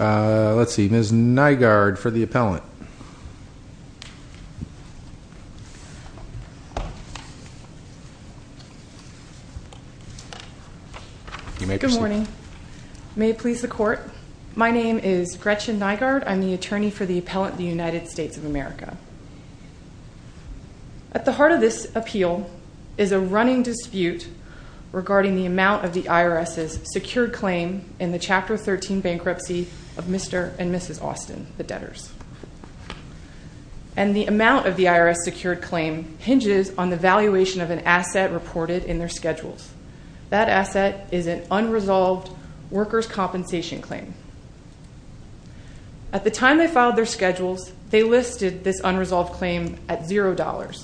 Let's see, Ms. Nygaard for the appellant. You may proceed. Good morning. May it please the Court, my name is Gretchen Nygaard. I'm the attorney for the appellant of the United States of America. At the heart of this appeal is a running dispute regarding the amount of the IRS's secured claim in the Chapter 13 bankruptcy of Mr. and Mrs. Austin, the debtors. And the amount of the IRS's secured claim hinges on the valuation of an asset reported in their schedules. That asset is an unresolved workers' compensation claim. At the time they filed their schedules, they listed this unresolved claim at $0.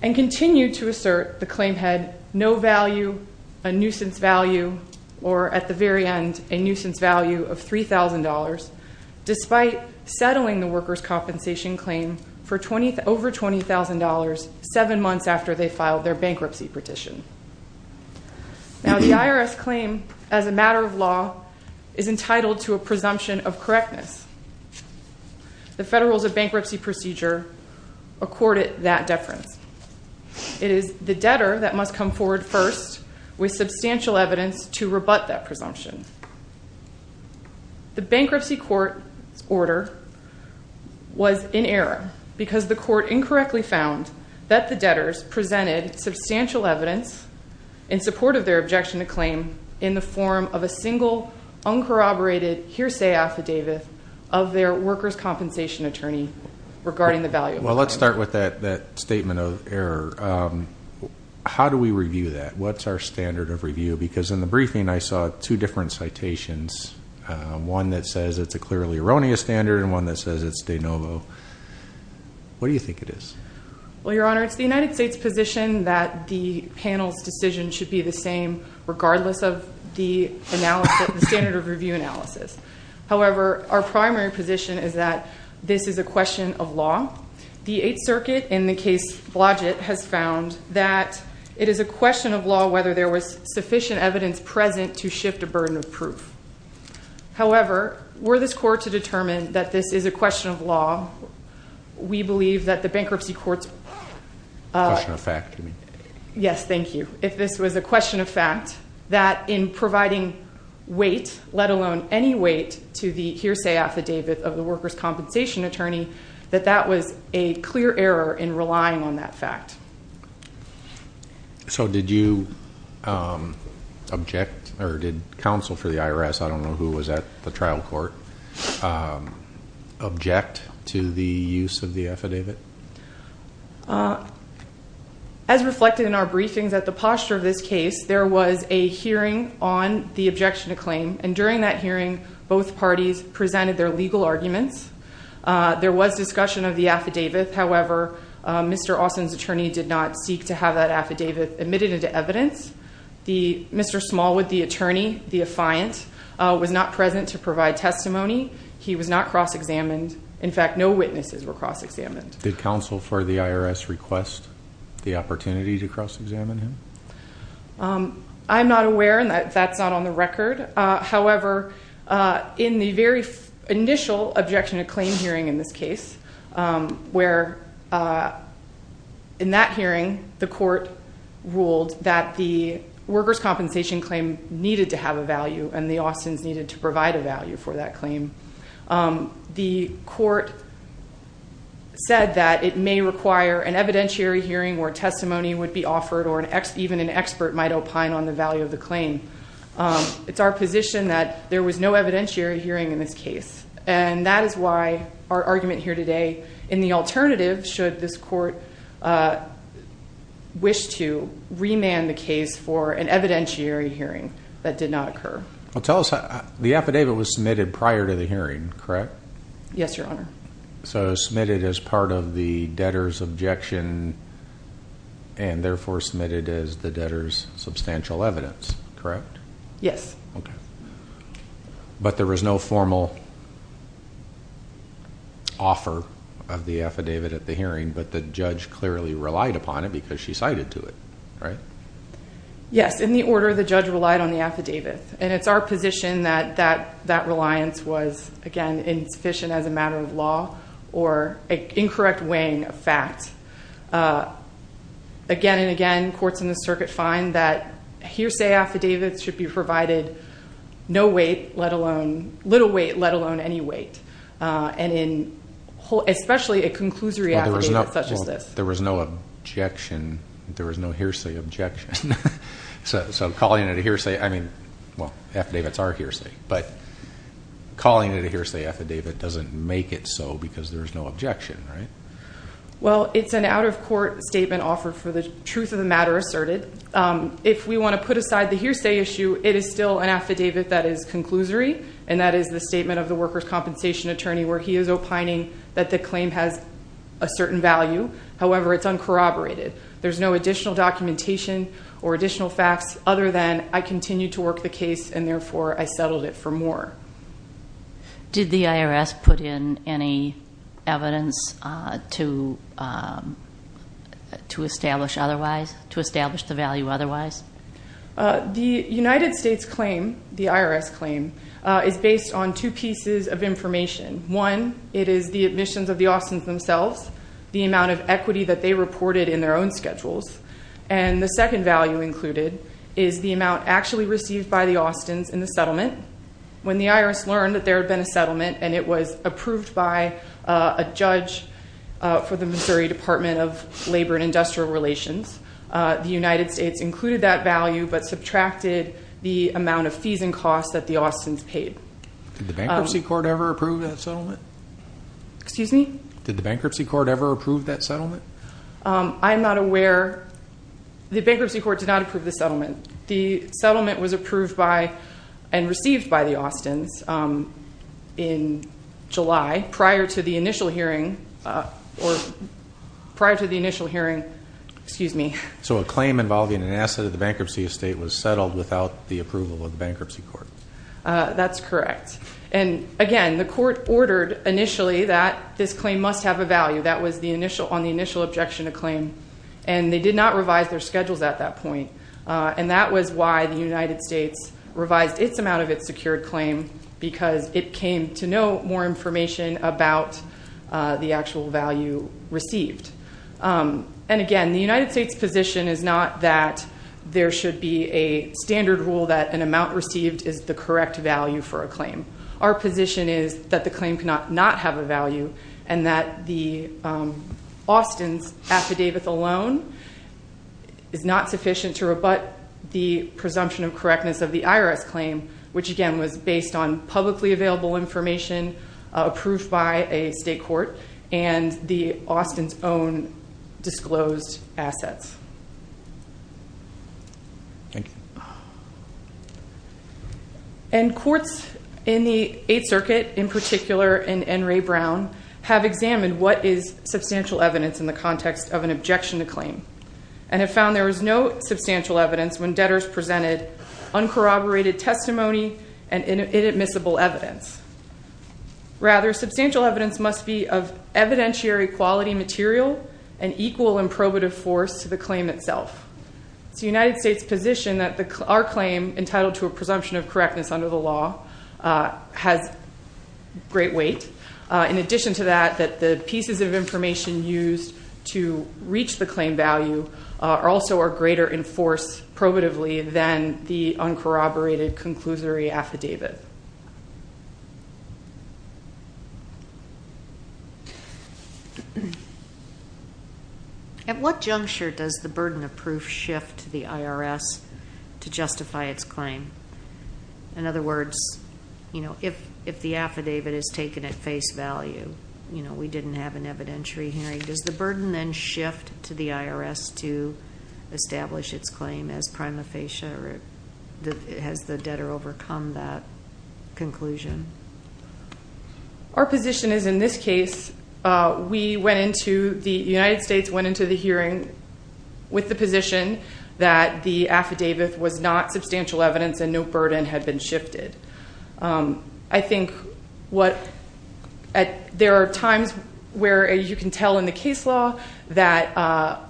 And continued to assert the claim had no value, a nuisance value, or at the very end, a nuisance value of $3,000, despite settling the workers' compensation claim for over $20,000 seven months after they filed their bankruptcy petition. Now, the IRS claim as a matter of law is entitled to a presumption of correctness. The Federals of Bankruptcy Procedure accorded that deference. It is the debtor that must come forward first with substantial evidence to rebut that presumption. The bankruptcy court's order was in error because the court incorrectly found that the debtors presented substantial evidence in support of their objection to claim in the form of a single, uncorroborated, hearsay affidavit of their workers' compensation attorney regarding the value. Well, let's start with that statement of error. How do we review that? What's our standard of review? Because in the briefing, I saw two different citations, one that says it's a clearly erroneous standard and one that says it's de novo. What do you think it is? Well, Your Honor, it's the United States' position that the panel's decision should be the same regardless of the standard of review analysis. The Eighth Circuit in the case Blodgett has found that it is a question of law whether there was sufficient evidence present to shift a burden of proof. However, were this court to determine that this is a question of law, we believe that the bankruptcy court's Question of fact, you mean? Yes, thank you. If this was a question of fact, that in providing weight, let alone any weight, to the hearsay affidavit of the workers' compensation attorney, that that was a clear error in relying on that fact. So did you object or did counsel for the IRS, I don't know who was at the trial court, object to the use of the affidavit? As reflected in our briefings at the posture of this case, there was a hearing on the objection to claim and during that hearing, both parties presented their legal arguments. There was discussion of the affidavit. However, Mr. Austin's attorney did not seek to have that affidavit admitted into evidence. Mr. Smallwood, the attorney, the affiant, was not present to provide testimony. He was not cross-examined. In fact, no witnesses were cross-examined. Did counsel for the IRS request the opportunity to cross-examine him? I'm not aware and that's not on the record. However, in the very initial objection to claim hearing in this case, where in that hearing, the court ruled that the workers' compensation claim needed to have a value and the Austins needed to provide a value for that claim. The court said that it may require an evidentiary hearing where testimony would be offered or even an expert might opine on the value of the claim. It's our position that there was no evidentiary hearing in this case. And that is why our argument here today in the alternative, should this court wish to remand the case for an evidentiary hearing that did not occur. Well, tell us, the affidavit was submitted prior to the hearing, correct? Yes, Your Honor. So it was submitted as part of the debtor's objection and therefore submitted as the debtor's substantial evidence, correct? Yes. Okay. But there was no formal offer of the affidavit at the hearing, but the judge clearly relied upon it because she cited to it, right? Yes, in the order the judge relied on the affidavit. And it's our position that that reliance was, again, insufficient as a matter of law or an incorrect weighing of facts. Again and again, courts in the circuit find that hearsay affidavits should be provided no weight, let alone little weight, let alone any weight, and especially a conclusory affidavit such as this. There was no objection. There was no hearsay objection. So calling it a hearsay, I mean, well, affidavits are hearsay, but calling it a hearsay affidavit doesn't make it so because there's no objection, right? Well, it's an out-of-court statement offered for the truth of the matter asserted. If we want to put aside the hearsay issue, it is still an affidavit that is conclusory, and that is the statement of the workers' compensation attorney where he is opining that the claim has a certain value. However, it's uncorroborated. There's no additional documentation or additional facts other than I continue to work the case, and therefore I settled it for more. Did the IRS put in any evidence to establish otherwise, to establish the value otherwise? The United States claim, the IRS claim, is based on two pieces of information. One, it is the admissions of the Austins themselves, the amount of equity that they reported in their own schedules, and the second value included is the amount actually received by the Austins in the settlement. When the IRS learned that there had been a settlement and it was approved by a judge for the Missouri Department of Labor and Industrial Relations, the United States included that value but subtracted the amount of fees and costs that the Austins paid. Did the bankruptcy court ever approve that settlement? Excuse me? Did the bankruptcy court ever approve that settlement? I'm not aware. The bankruptcy court did not approve the settlement. The settlement was approved by and received by the Austins in July prior to the initial hearing. Excuse me. So a claim involving an asset of the bankruptcy estate was settled without the approval of the bankruptcy court. That's correct. And, again, the court ordered initially that this claim must have a value. That was on the initial objection to claim. And they did not revise their schedules at that point. And that was why the United States revised its amount of its secured claim because it came to know more information about the actual value received. And, again, the United States position is not that there should be a standard rule that an amount received is the correct value for a claim. Our position is that the claim cannot not have a value and that the Austins affidavit alone is not sufficient to rebut the presumption of correctness of the IRS claim, which, again, was based on publicly available information approved by a state court and the Austins' own disclosed assets. Thank you. And courts in the Eighth Circuit, in particular in Enray Brown, have examined what is substantial evidence in the context of an objection to claim and have found there is no substantial evidence when debtors presented uncorroborated testimony and inadmissible evidence. Rather, substantial evidence must be of evidentiary quality material and equal in probative force to the claim itself. It's the United States position that our claim entitled to a presumption of correctness under the law has great weight. In addition to that, that the pieces of information used to reach the claim value also are greater in force probatively than the uncorroborated conclusory affidavit. At what juncture does the burden of proof shift to the IRS to justify its claim? In other words, if the affidavit is taken at face value, we didn't have an evidentiary hearing, does the burden then shift to the IRS to establish its claim as prima facie or has the debtor overcome that conclusion? Our position is in this case, the United States went into the hearing with the position that the affidavit was not substantial evidence and no burden had been shifted. I think there are times where you can tell in the case law that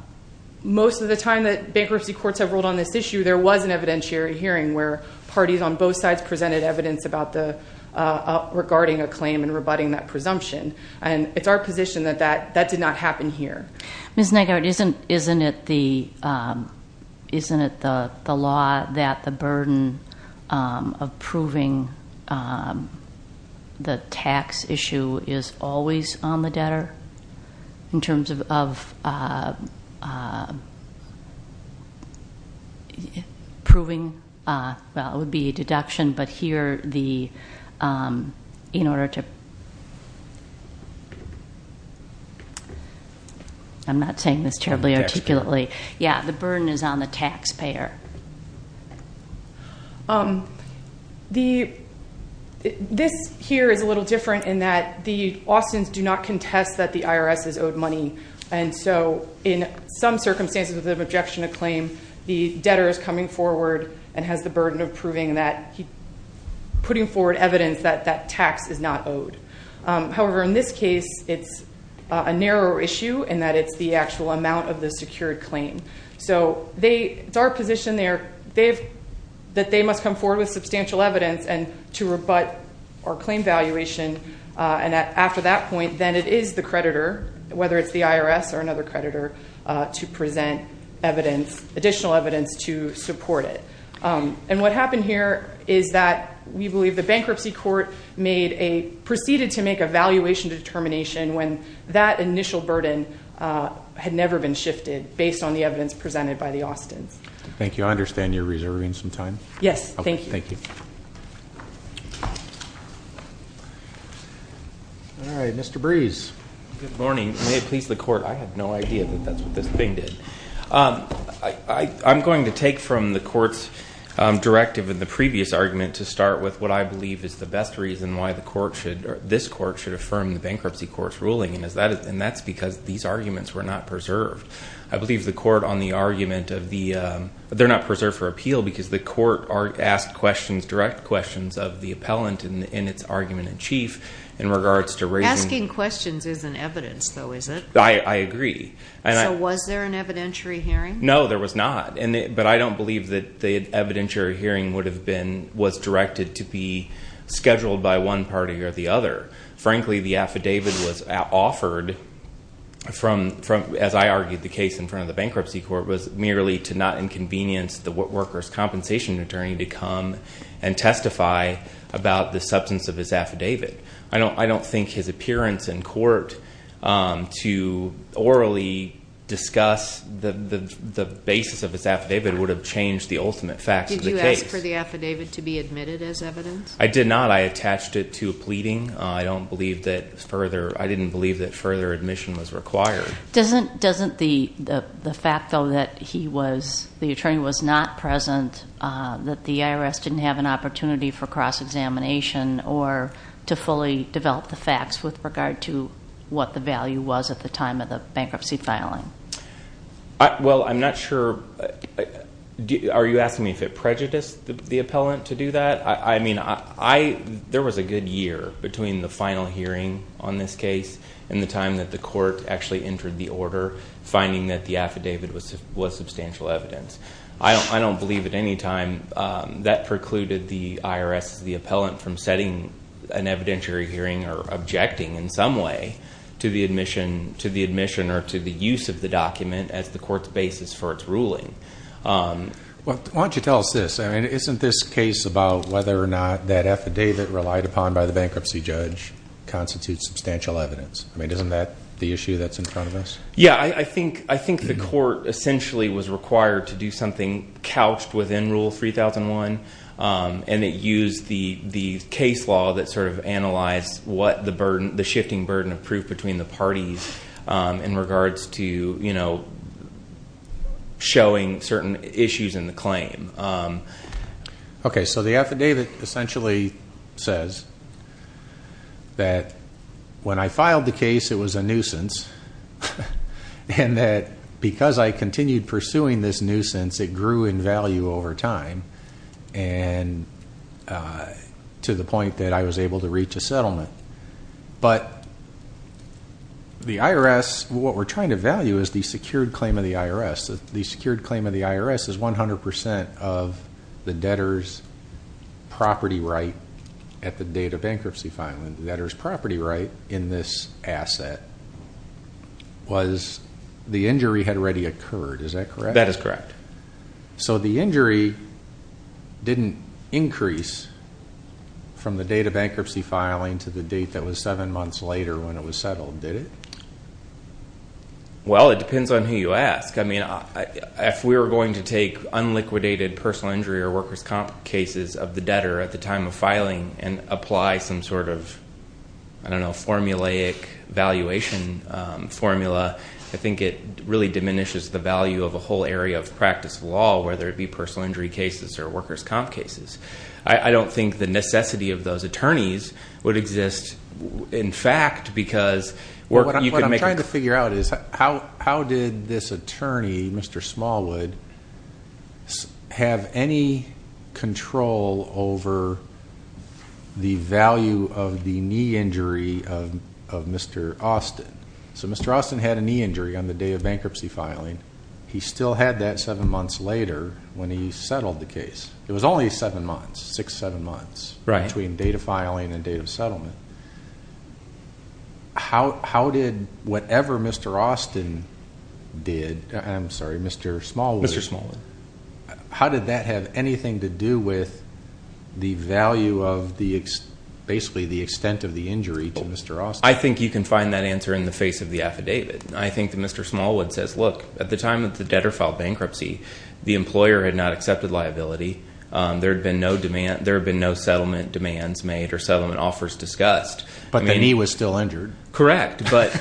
most of the time that bankruptcy courts have ruled on this issue, there was an evidentiary hearing where parties on both sides presented evidence regarding a claim and rebutting that presumption. It's our position that that did not happen here. Ms. Negard, isn't it the law that the burden of proving the tax issue is always on the debtor in terms of proving, well, it would be a deduction, but here the, in order to... I'm not saying this terribly articulately. Yeah, the burden is on the taxpayer. This here is a little different in that the Austins do not contest that the IRS is owed money and so in some circumstances of objection to claim, the debtor is coming forward and has the burden of proving that, putting forward evidence that that tax is not owed. However, in this case, it's a narrower issue in that it's the actual amount of the secured claim. So it's our position that they must come forward with substantial evidence and to rebut our claim valuation and after that point, then it is the creditor, whether it's the IRS or another creditor, to present additional evidence to support it. And what happened here is that we believe the bankruptcy court made a, proceeded to make a valuation determination when that initial burden had never been shifted based on the evidence presented by the Austins. Thank you. I understand you're reserving some time. Yes, thank you. All right, Mr. Brees. Good morning. May it please the court, I had no idea that that's what this thing did. I'm going to take from the court's directive in the previous argument to start with what I believe is the best reason why the court should, this court should affirm the bankruptcy court's ruling and that's because these arguments were not preserved. I believe the court on the argument of the, they're not preserved for appeal because the court asked questions, direct questions of the appellant in its argument in chief in regards to raising. Asking questions isn't evidence though, is it? I agree. So was there an evidentiary hearing? No, there was not. But I don't believe that the evidentiary hearing would have been, was directed to be scheduled by one party or the other. Frankly, the affidavit was offered from, as I argued the case in front of the bankruptcy court, was merely to not inconvenience the workers' compensation attorney to come and testify about the substance of his affidavit. I don't think his appearance in court to orally discuss the basis of his affidavit would have changed the ultimate facts of the case. Did you ask for the affidavit to be admitted as evidence? I did not. I attached it to a pleading. I don't believe that further, I didn't believe that further admission was required. Doesn't the fact though that he was, the attorney was not present, that the IRS didn't have an opportunity for cross-examination or to fully develop the facts with regard to what the value was at the time of the bankruptcy filing? Well, I'm not sure, are you asking me if it prejudiced the appellant to do that? I mean, there was a good year between the final hearing on this case and the time that the court actually entered the order, finding that the affidavit was substantial evidence. I don't believe at any time that precluded the IRS, the appellant, from setting an evidentiary hearing or objecting in some way to the admission or to the use of the document as the court's basis for its ruling. Why don't you tell us this? I mean, isn't this case about whether or not that affidavit relied upon by the bankruptcy judge constitutes substantial evidence? I mean, isn't that the issue that's in front of us? Yeah, I think the court essentially was required to do something couched within Rule 3001 and it used the case law that sort of analyzed the shifting burden of proof between the parties in regards to showing certain issues in the claim. Okay, so the affidavit essentially says that when I filed the case, it was a nuisance and that because I continued pursuing this nuisance, it grew in value over time to the point that I was able to reach a settlement. But the IRS, what we're trying to value is the secured claim of the IRS. The secured claim of the IRS is 100% of the debtor's property right at the date of bankruptcy filing. The debtor's property right in this asset was the injury had already occurred. Is that correct? That is correct. So the injury didn't increase from the date of bankruptcy filing to the date that was seven months later when it was settled, did it? Well, it depends on who you ask. I mean, if we were going to take unliquidated personal injury or workers' comp cases of the debtor at the time of filing and apply some sort of, I don't know, formulaic valuation formula, I think it really diminishes the value of a whole area of practice law, whether it be personal injury cases or workers' comp cases. I don't think the necessity of those attorneys would exist. What I'm trying to figure out is how did this attorney, Mr. Smallwood, have any control over the value of the knee injury of Mr. Austin? So Mr. Austin had a knee injury on the day of bankruptcy filing. He still had that seven months later when he settled the case. It was only seven months, six, seven months between date of filing and date of settlement. How did whatever Mr. Austin did, I'm sorry, Mr. Smallwood, how did that have anything to do with the value of basically the extent of the injury to Mr. Austin? I think you can find that answer in the face of the affidavit. I think that Mr. Smallwood says, look, at the time that the debtor filed bankruptcy, the employer had not accepted liability. There had been no settlement demands made or settlement offers discussed. But the knee was still injured. Correct. But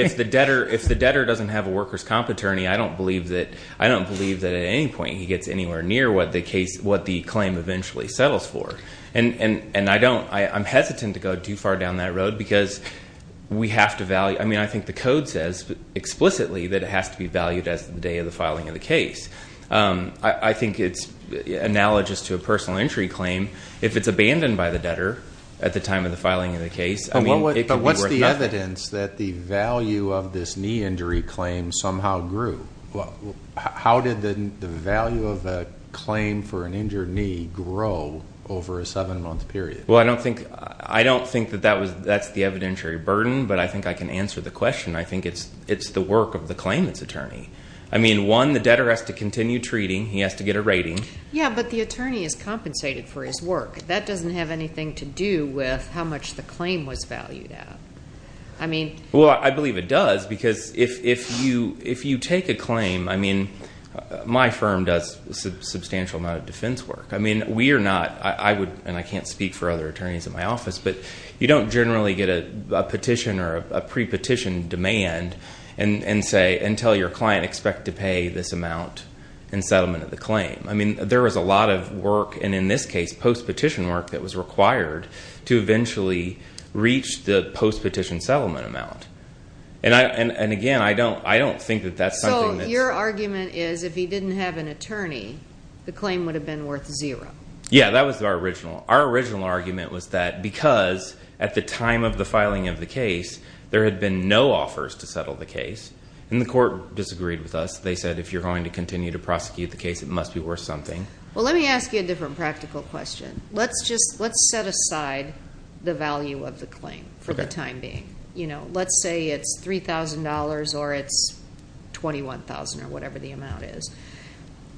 if the debtor doesn't have a workers' comp attorney, I don't believe that at any point he gets anywhere near what the claim eventually settles for. And I don't, I'm hesitant to go too far down that road because we have to value, I mean, I think the code says explicitly that it has to be valued as the day of the filing of the case. I think it's analogous to a personal injury claim. If it's abandoned by the debtor at the time of the filing of the case, I mean, it could be worth nothing. But what's the evidence that the value of this knee injury claim somehow grew? How did the value of a claim for an injured knee grow over a seven-month period? Well, I don't think that that's the evidentiary burden, but I think I can answer the question. I think it's the work of the claimant's attorney. I mean, one, the debtor has to continue treating. He has to get a rating. Yeah, but the attorney is compensated for his work. That doesn't have anything to do with how much the claim was valued at. Well, I believe it does because if you take a claim, I mean, my firm does a substantial amount of defense work. I mean, we are not, and I can't speak for other attorneys in my office, but you don't generally get a petition or a pre-petition demand and say, until your client expect to pay this amount in settlement of the claim. I mean, there was a lot of work, and in this case, post-petition work that was required to eventually reach the post-petition settlement amount. And again, I don't think that that's something that's... Yeah, that was our original. Our original argument was that because at the time of the filing of the case, there had been no offers to settle the case, and the court disagreed with us. They said, if you're going to continue to prosecute the case, it must be worth something. Well, let me ask you a different practical question. Let's set aside the value of the claim for the time being. Let's say it's $3,000 or it's $21,000 or whatever the amount is.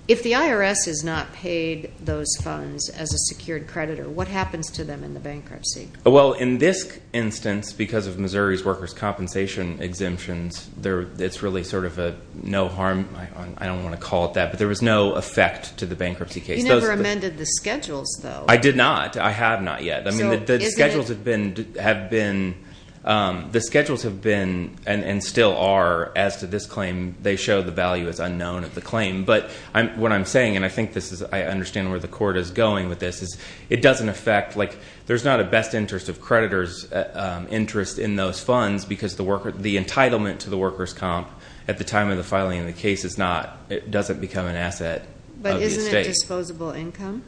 If the IRS has not paid those funds as a secured creditor, what happens to them in the bankruptcy? Well, in this instance, because of Missouri's workers' compensation exemptions, it's really sort of a no harm... I don't want to call it that, but there was no effect to the bankruptcy case. You never amended the schedules, though. I did not. I have not yet. The schedules have been and still are, as to this claim, they show the value is unknown of the claim. But what I'm saying, and I think I understand where the court is going with this, is it doesn't affect... There's not a best interest of creditors' interest in those funds because the entitlement to the workers' comp at the time of the filing of the case is not... It doesn't become an asset of the estate. But isn't it disposable income?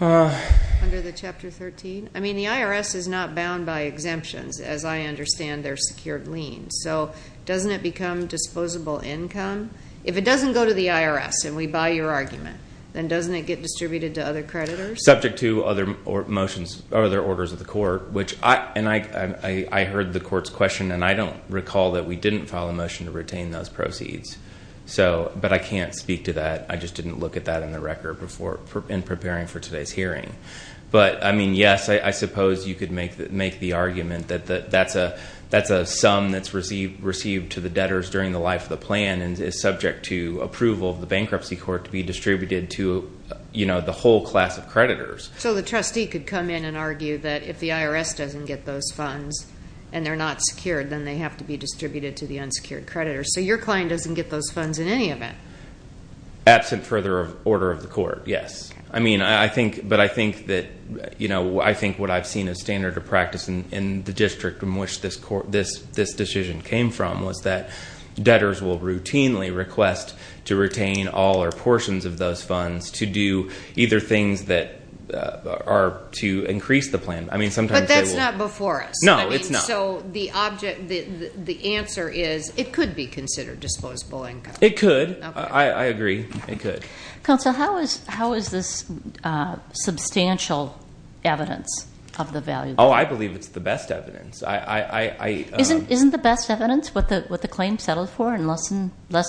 Under the Chapter 13? I mean, the IRS is not bound by exemptions, as I understand their secured lien. So, doesn't it become disposable income? If it doesn't go to the IRS and we buy your argument, then doesn't it get distributed to other creditors? Subject to other motions, other orders of the court, which I... And I heard the court's question, and I don't recall that we didn't file a motion to retain those proceeds. So, but I can't speak to that. I just didn't look at that in the record before... in preparing for today's hearing. But, I mean, yes, I suppose you could make the argument that that's a sum that's received to the debtors during the life of the plan... and is subject to approval of the bankruptcy court to be distributed to, you know, the whole class of creditors. So, the trustee could come in and argue that if the IRS doesn't get those funds and they're not secured... then they have to be distributed to the unsecured creditors. So, your client doesn't get those funds in any event? Absent further order of the court, yes. I mean, I think... but I think that, you know, I think what I've seen as standard of practice in the district in which this decision came from... was that debtors will routinely request to retain all or portions of those funds to do either things that are to increase the plan. I mean, sometimes they will... But, that's not before us. No, it's not. I mean, so the object... the answer is, it could be considered disposable income. It could. I agree. It could. Counsel, how is this substantial evidence of the value? Oh, I believe it's the best evidence. I... Isn't the best evidence what the claim settled for in less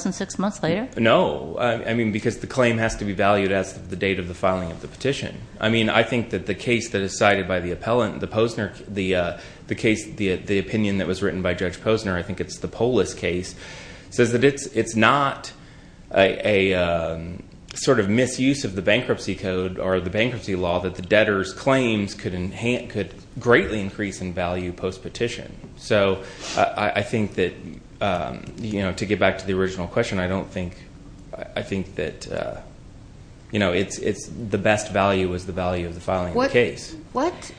than six months later? No. I mean, because the claim has to be valued as the date of the filing of the petition. I mean, I think that the case that is cited by the appellant, the Posner... the case... the opinion that was written by Judge Posner... I think it's the Polis case... says that it's not a sort of misuse of the bankruptcy code or the bankruptcy law that the debtors' claims could greatly increase in value post-petition. So, I think that, you know, to get back to the original question, I don't think... I think that, you know, it's the best value is the value of the filing of the case. What...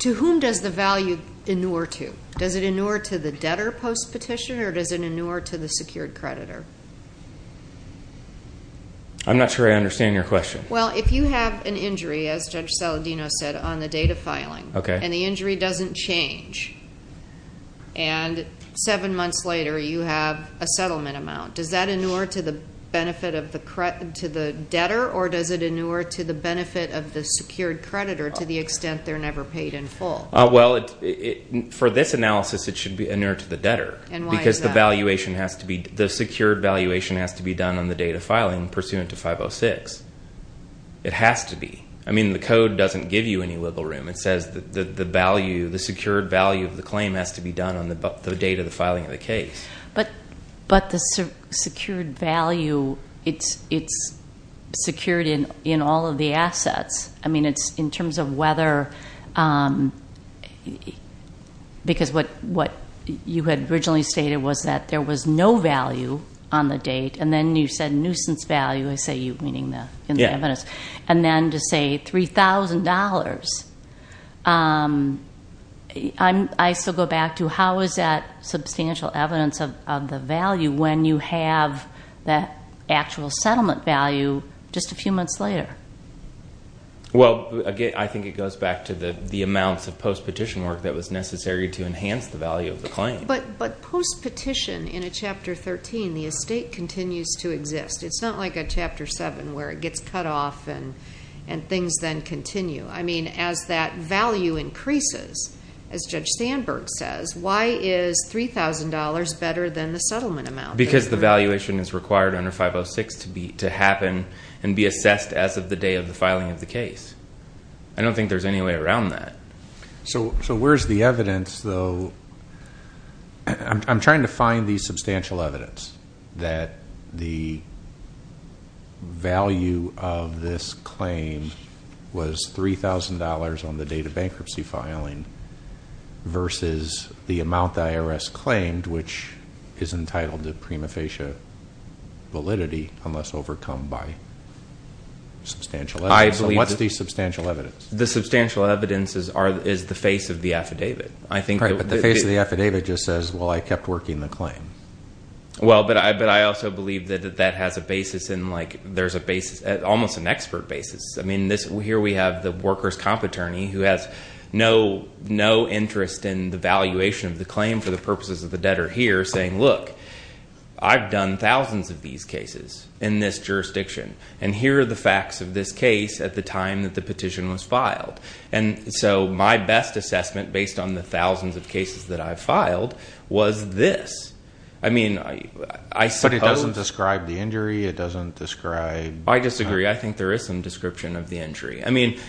to whom does the value inure to? Does it inure to the debtor post-petition or does it inure to the secured creditor? I'm not sure I understand your question. Well, if you have an injury, as Judge Saladino said, on the date of filing... Okay.... and the injury doesn't change, and seven months later you have a settlement amount, does that inure to the benefit of the debtor or does it inure to the benefit of the secured creditor to the extent they're never paid in full? Well, for this analysis, it should be inure to the debtor. And why is that? Because the valuation has to be... the secured valuation has to be done on the date of filing pursuant to 506. It has to be. I mean, the code doesn't give you any wiggle room. It says that the value... the secured value of the claim has to be done on the date of the filing of the case. But the secured value... it's secured in all of the assets. I mean, it's in terms of whether... because what you had originally stated was that there was no value on the date, and then you said nuisance value. I say you, meaning the evidence. Yeah. And then to say $3,000. I still go back to how is that substantial evidence of the value when you have that actual settlement value just a few months later? Well, again, I think it goes back to the amounts of post-petition work that was necessary to enhance the value of the claim. But post-petition in a Chapter 13, the estate continues to exist. It's not like a Chapter 7 where it gets cut off and things then continue. I mean, as that value increases, as Judge Sandberg says, why is $3,000 better than the settlement amount? Because the valuation is required under 506 to happen and be assessed as of the day of the filing of the case. I don't think there's any way around that. So where's the evidence, though? I'm trying to find the substantial evidence that the value of this claim was $3,000 on the date of bankruptcy filing versus the amount the IRS claimed, which is entitled to prima facie validity unless overcome by substantial evidence. What's the substantial evidence? The substantial evidence is the face of the affidavit. Right, but the face of the affidavit just says, well, I kept working the claim. Well, but I also believe that that has a basis in, like, there's a basis, almost an expert basis. I mean, here we have the workers' comp attorney who has no interest in the valuation of the claim for the purposes of the debtor here saying, look, I've done thousands of these cases in this jurisdiction, and here are the facts of this case at the time that the petition was filed. And so my best assessment based on the thousands of cases that I filed was this. I mean, I suppose. But it doesn't describe the injury. It doesn't describe. I disagree. I think there is some description of the injury. I mean,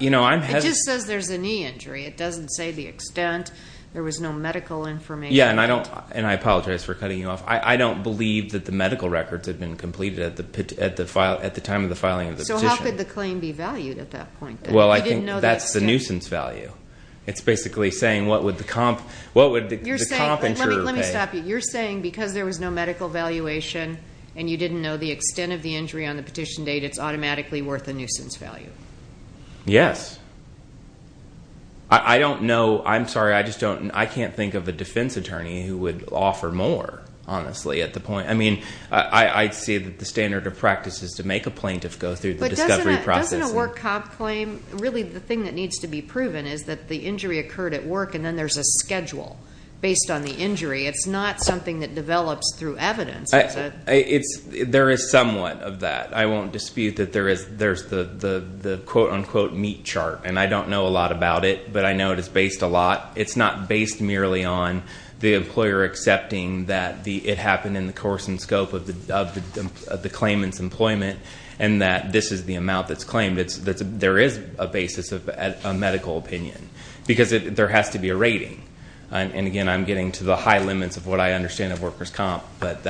you know, I'm hesitant. It just says there's a knee injury. It doesn't say the extent. There was no medical information. Yeah, and I apologize for cutting you off. I don't believe that the medical records had been completed at the time of the filing of the petition. So how could the claim be valued at that point? Well, I think that's the nuisance value. It's basically saying what would the comp insurer pay. Let me stop you. You're saying because there was no medical valuation and you didn't know the extent of the injury on the petition date, it's automatically worth a nuisance value. Yes. I don't know. I'm sorry. I just don't. I can't think of a defense attorney who would offer more, honestly, at the point. I mean, I see that the standard of practice is to make a plaintiff go through the discovery process. Doesn't a work comp claim, really the thing that needs to be proven is that the injury occurred at work and then there's a schedule based on the injury. It's not something that develops through evidence. There is somewhat of that. I won't dispute that there's the quote-unquote meat chart, and I don't know a lot about it, but I know it is based a lot. It's not based merely on the employer accepting that it happened in the course and scope of the claimant's employment and that this is the amount that's claimed. There is a basis of a medical opinion because there has to be a rating. And again, I'm getting to the high limits of what I understand of workers' comp, but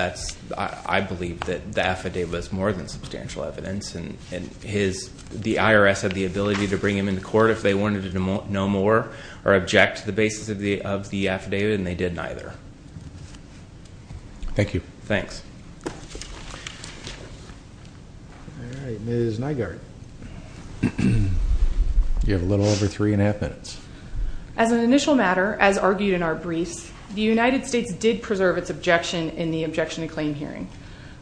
I believe that the affidavit is more than substantial evidence, and the IRS had the ability to bring him into court if they wanted to know more or object to the basis of the affidavit, and they did neither. Thank you. Thanks. All right, Ms. Nygaard. You have a little over three and a half minutes. As an initial matter, as argued in our briefs, the United States did preserve its objection in the objection to claim hearing.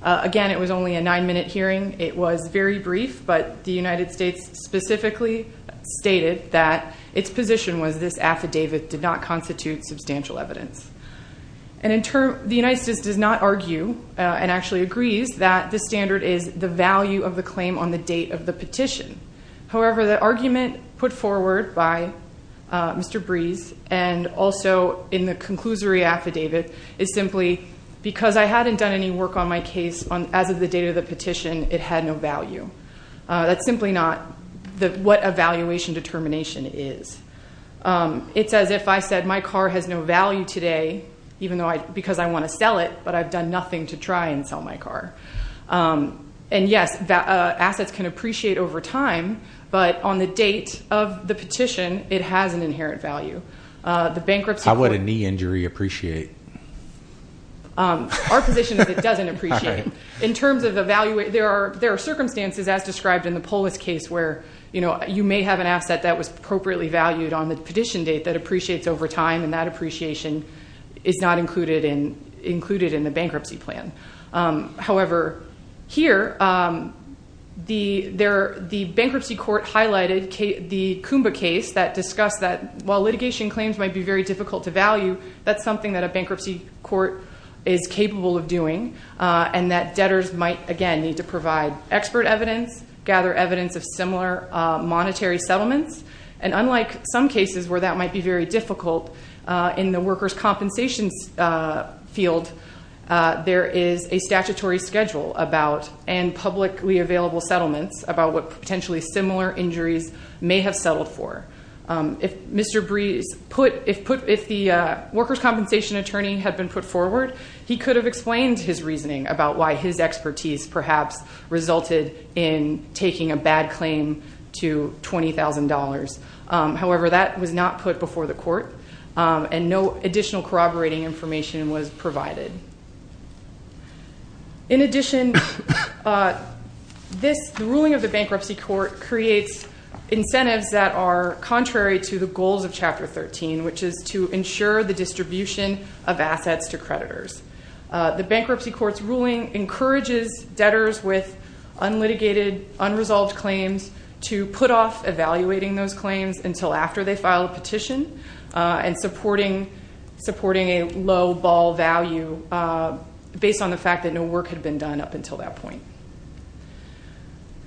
Again, it was only a nine-minute hearing. It was very brief, but the United States specifically stated that its position was this affidavit did not constitute substantial evidence. And in turn, the United States does not argue and actually agrees that the standard is the value of the claim on the date of the petition. However, the argument put forward by Mr. Brees and also in the conclusory affidavit is simply because I hadn't done any work on my case as of the date of the petition, it had no value. That's simply not what a valuation determination is. It's as if I said my car has no value today because I want to sell it, but I've done nothing to try and sell my car. And yes, assets can appreciate over time, but on the date of the petition, it has an inherent value. How would a knee injury appreciate? Our position is it doesn't appreciate. In terms of the value, there are circumstances, as described in the Polis case, where you may have an asset that was appropriately valued on the petition date that appreciates over time, and that appreciation is not included in the bankruptcy plan. However, here, the bankruptcy court highlighted the Coomba case that discussed that while litigation claims might be very difficult to value, that's something that a bankruptcy court is capable of doing. And that debtors might, again, need to provide expert evidence, gather evidence of similar monetary settlements. And unlike some cases where that might be very difficult, in the workers' compensation field, there is a statutory schedule and publicly available settlements about what potentially similar injuries may have settled for. If the workers' compensation attorney had been put forward, he could have explained his reasoning about why his expertise perhaps resulted in taking a bad claim to $20,000. However, that was not put before the court, and no additional corroborating information was provided. In addition, the ruling of the bankruptcy court creates incentives that are contrary to the goals of Chapter 13, which is to ensure the distribution of assets to creditors. The bankruptcy court's ruling encourages debtors with unlitigated, unresolved claims to put off evaluating those claims until after they file a petition, and supporting a low ball value based on the fact that no work had been done up until that point.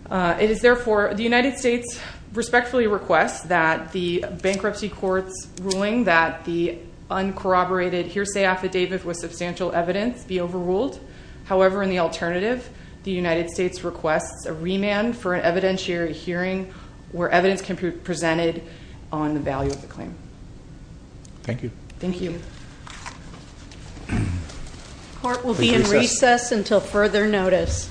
It is, therefore, the United States respectfully requests that the bankruptcy court's ruling that the uncorroborated hearsay affidavit with substantial evidence be overruled. However, in the alternative, the United States requests a remand for an evidentiary hearing where evidence can be presented on the value of the claim. Thank you. Thank you. Court will be in recess until further notice.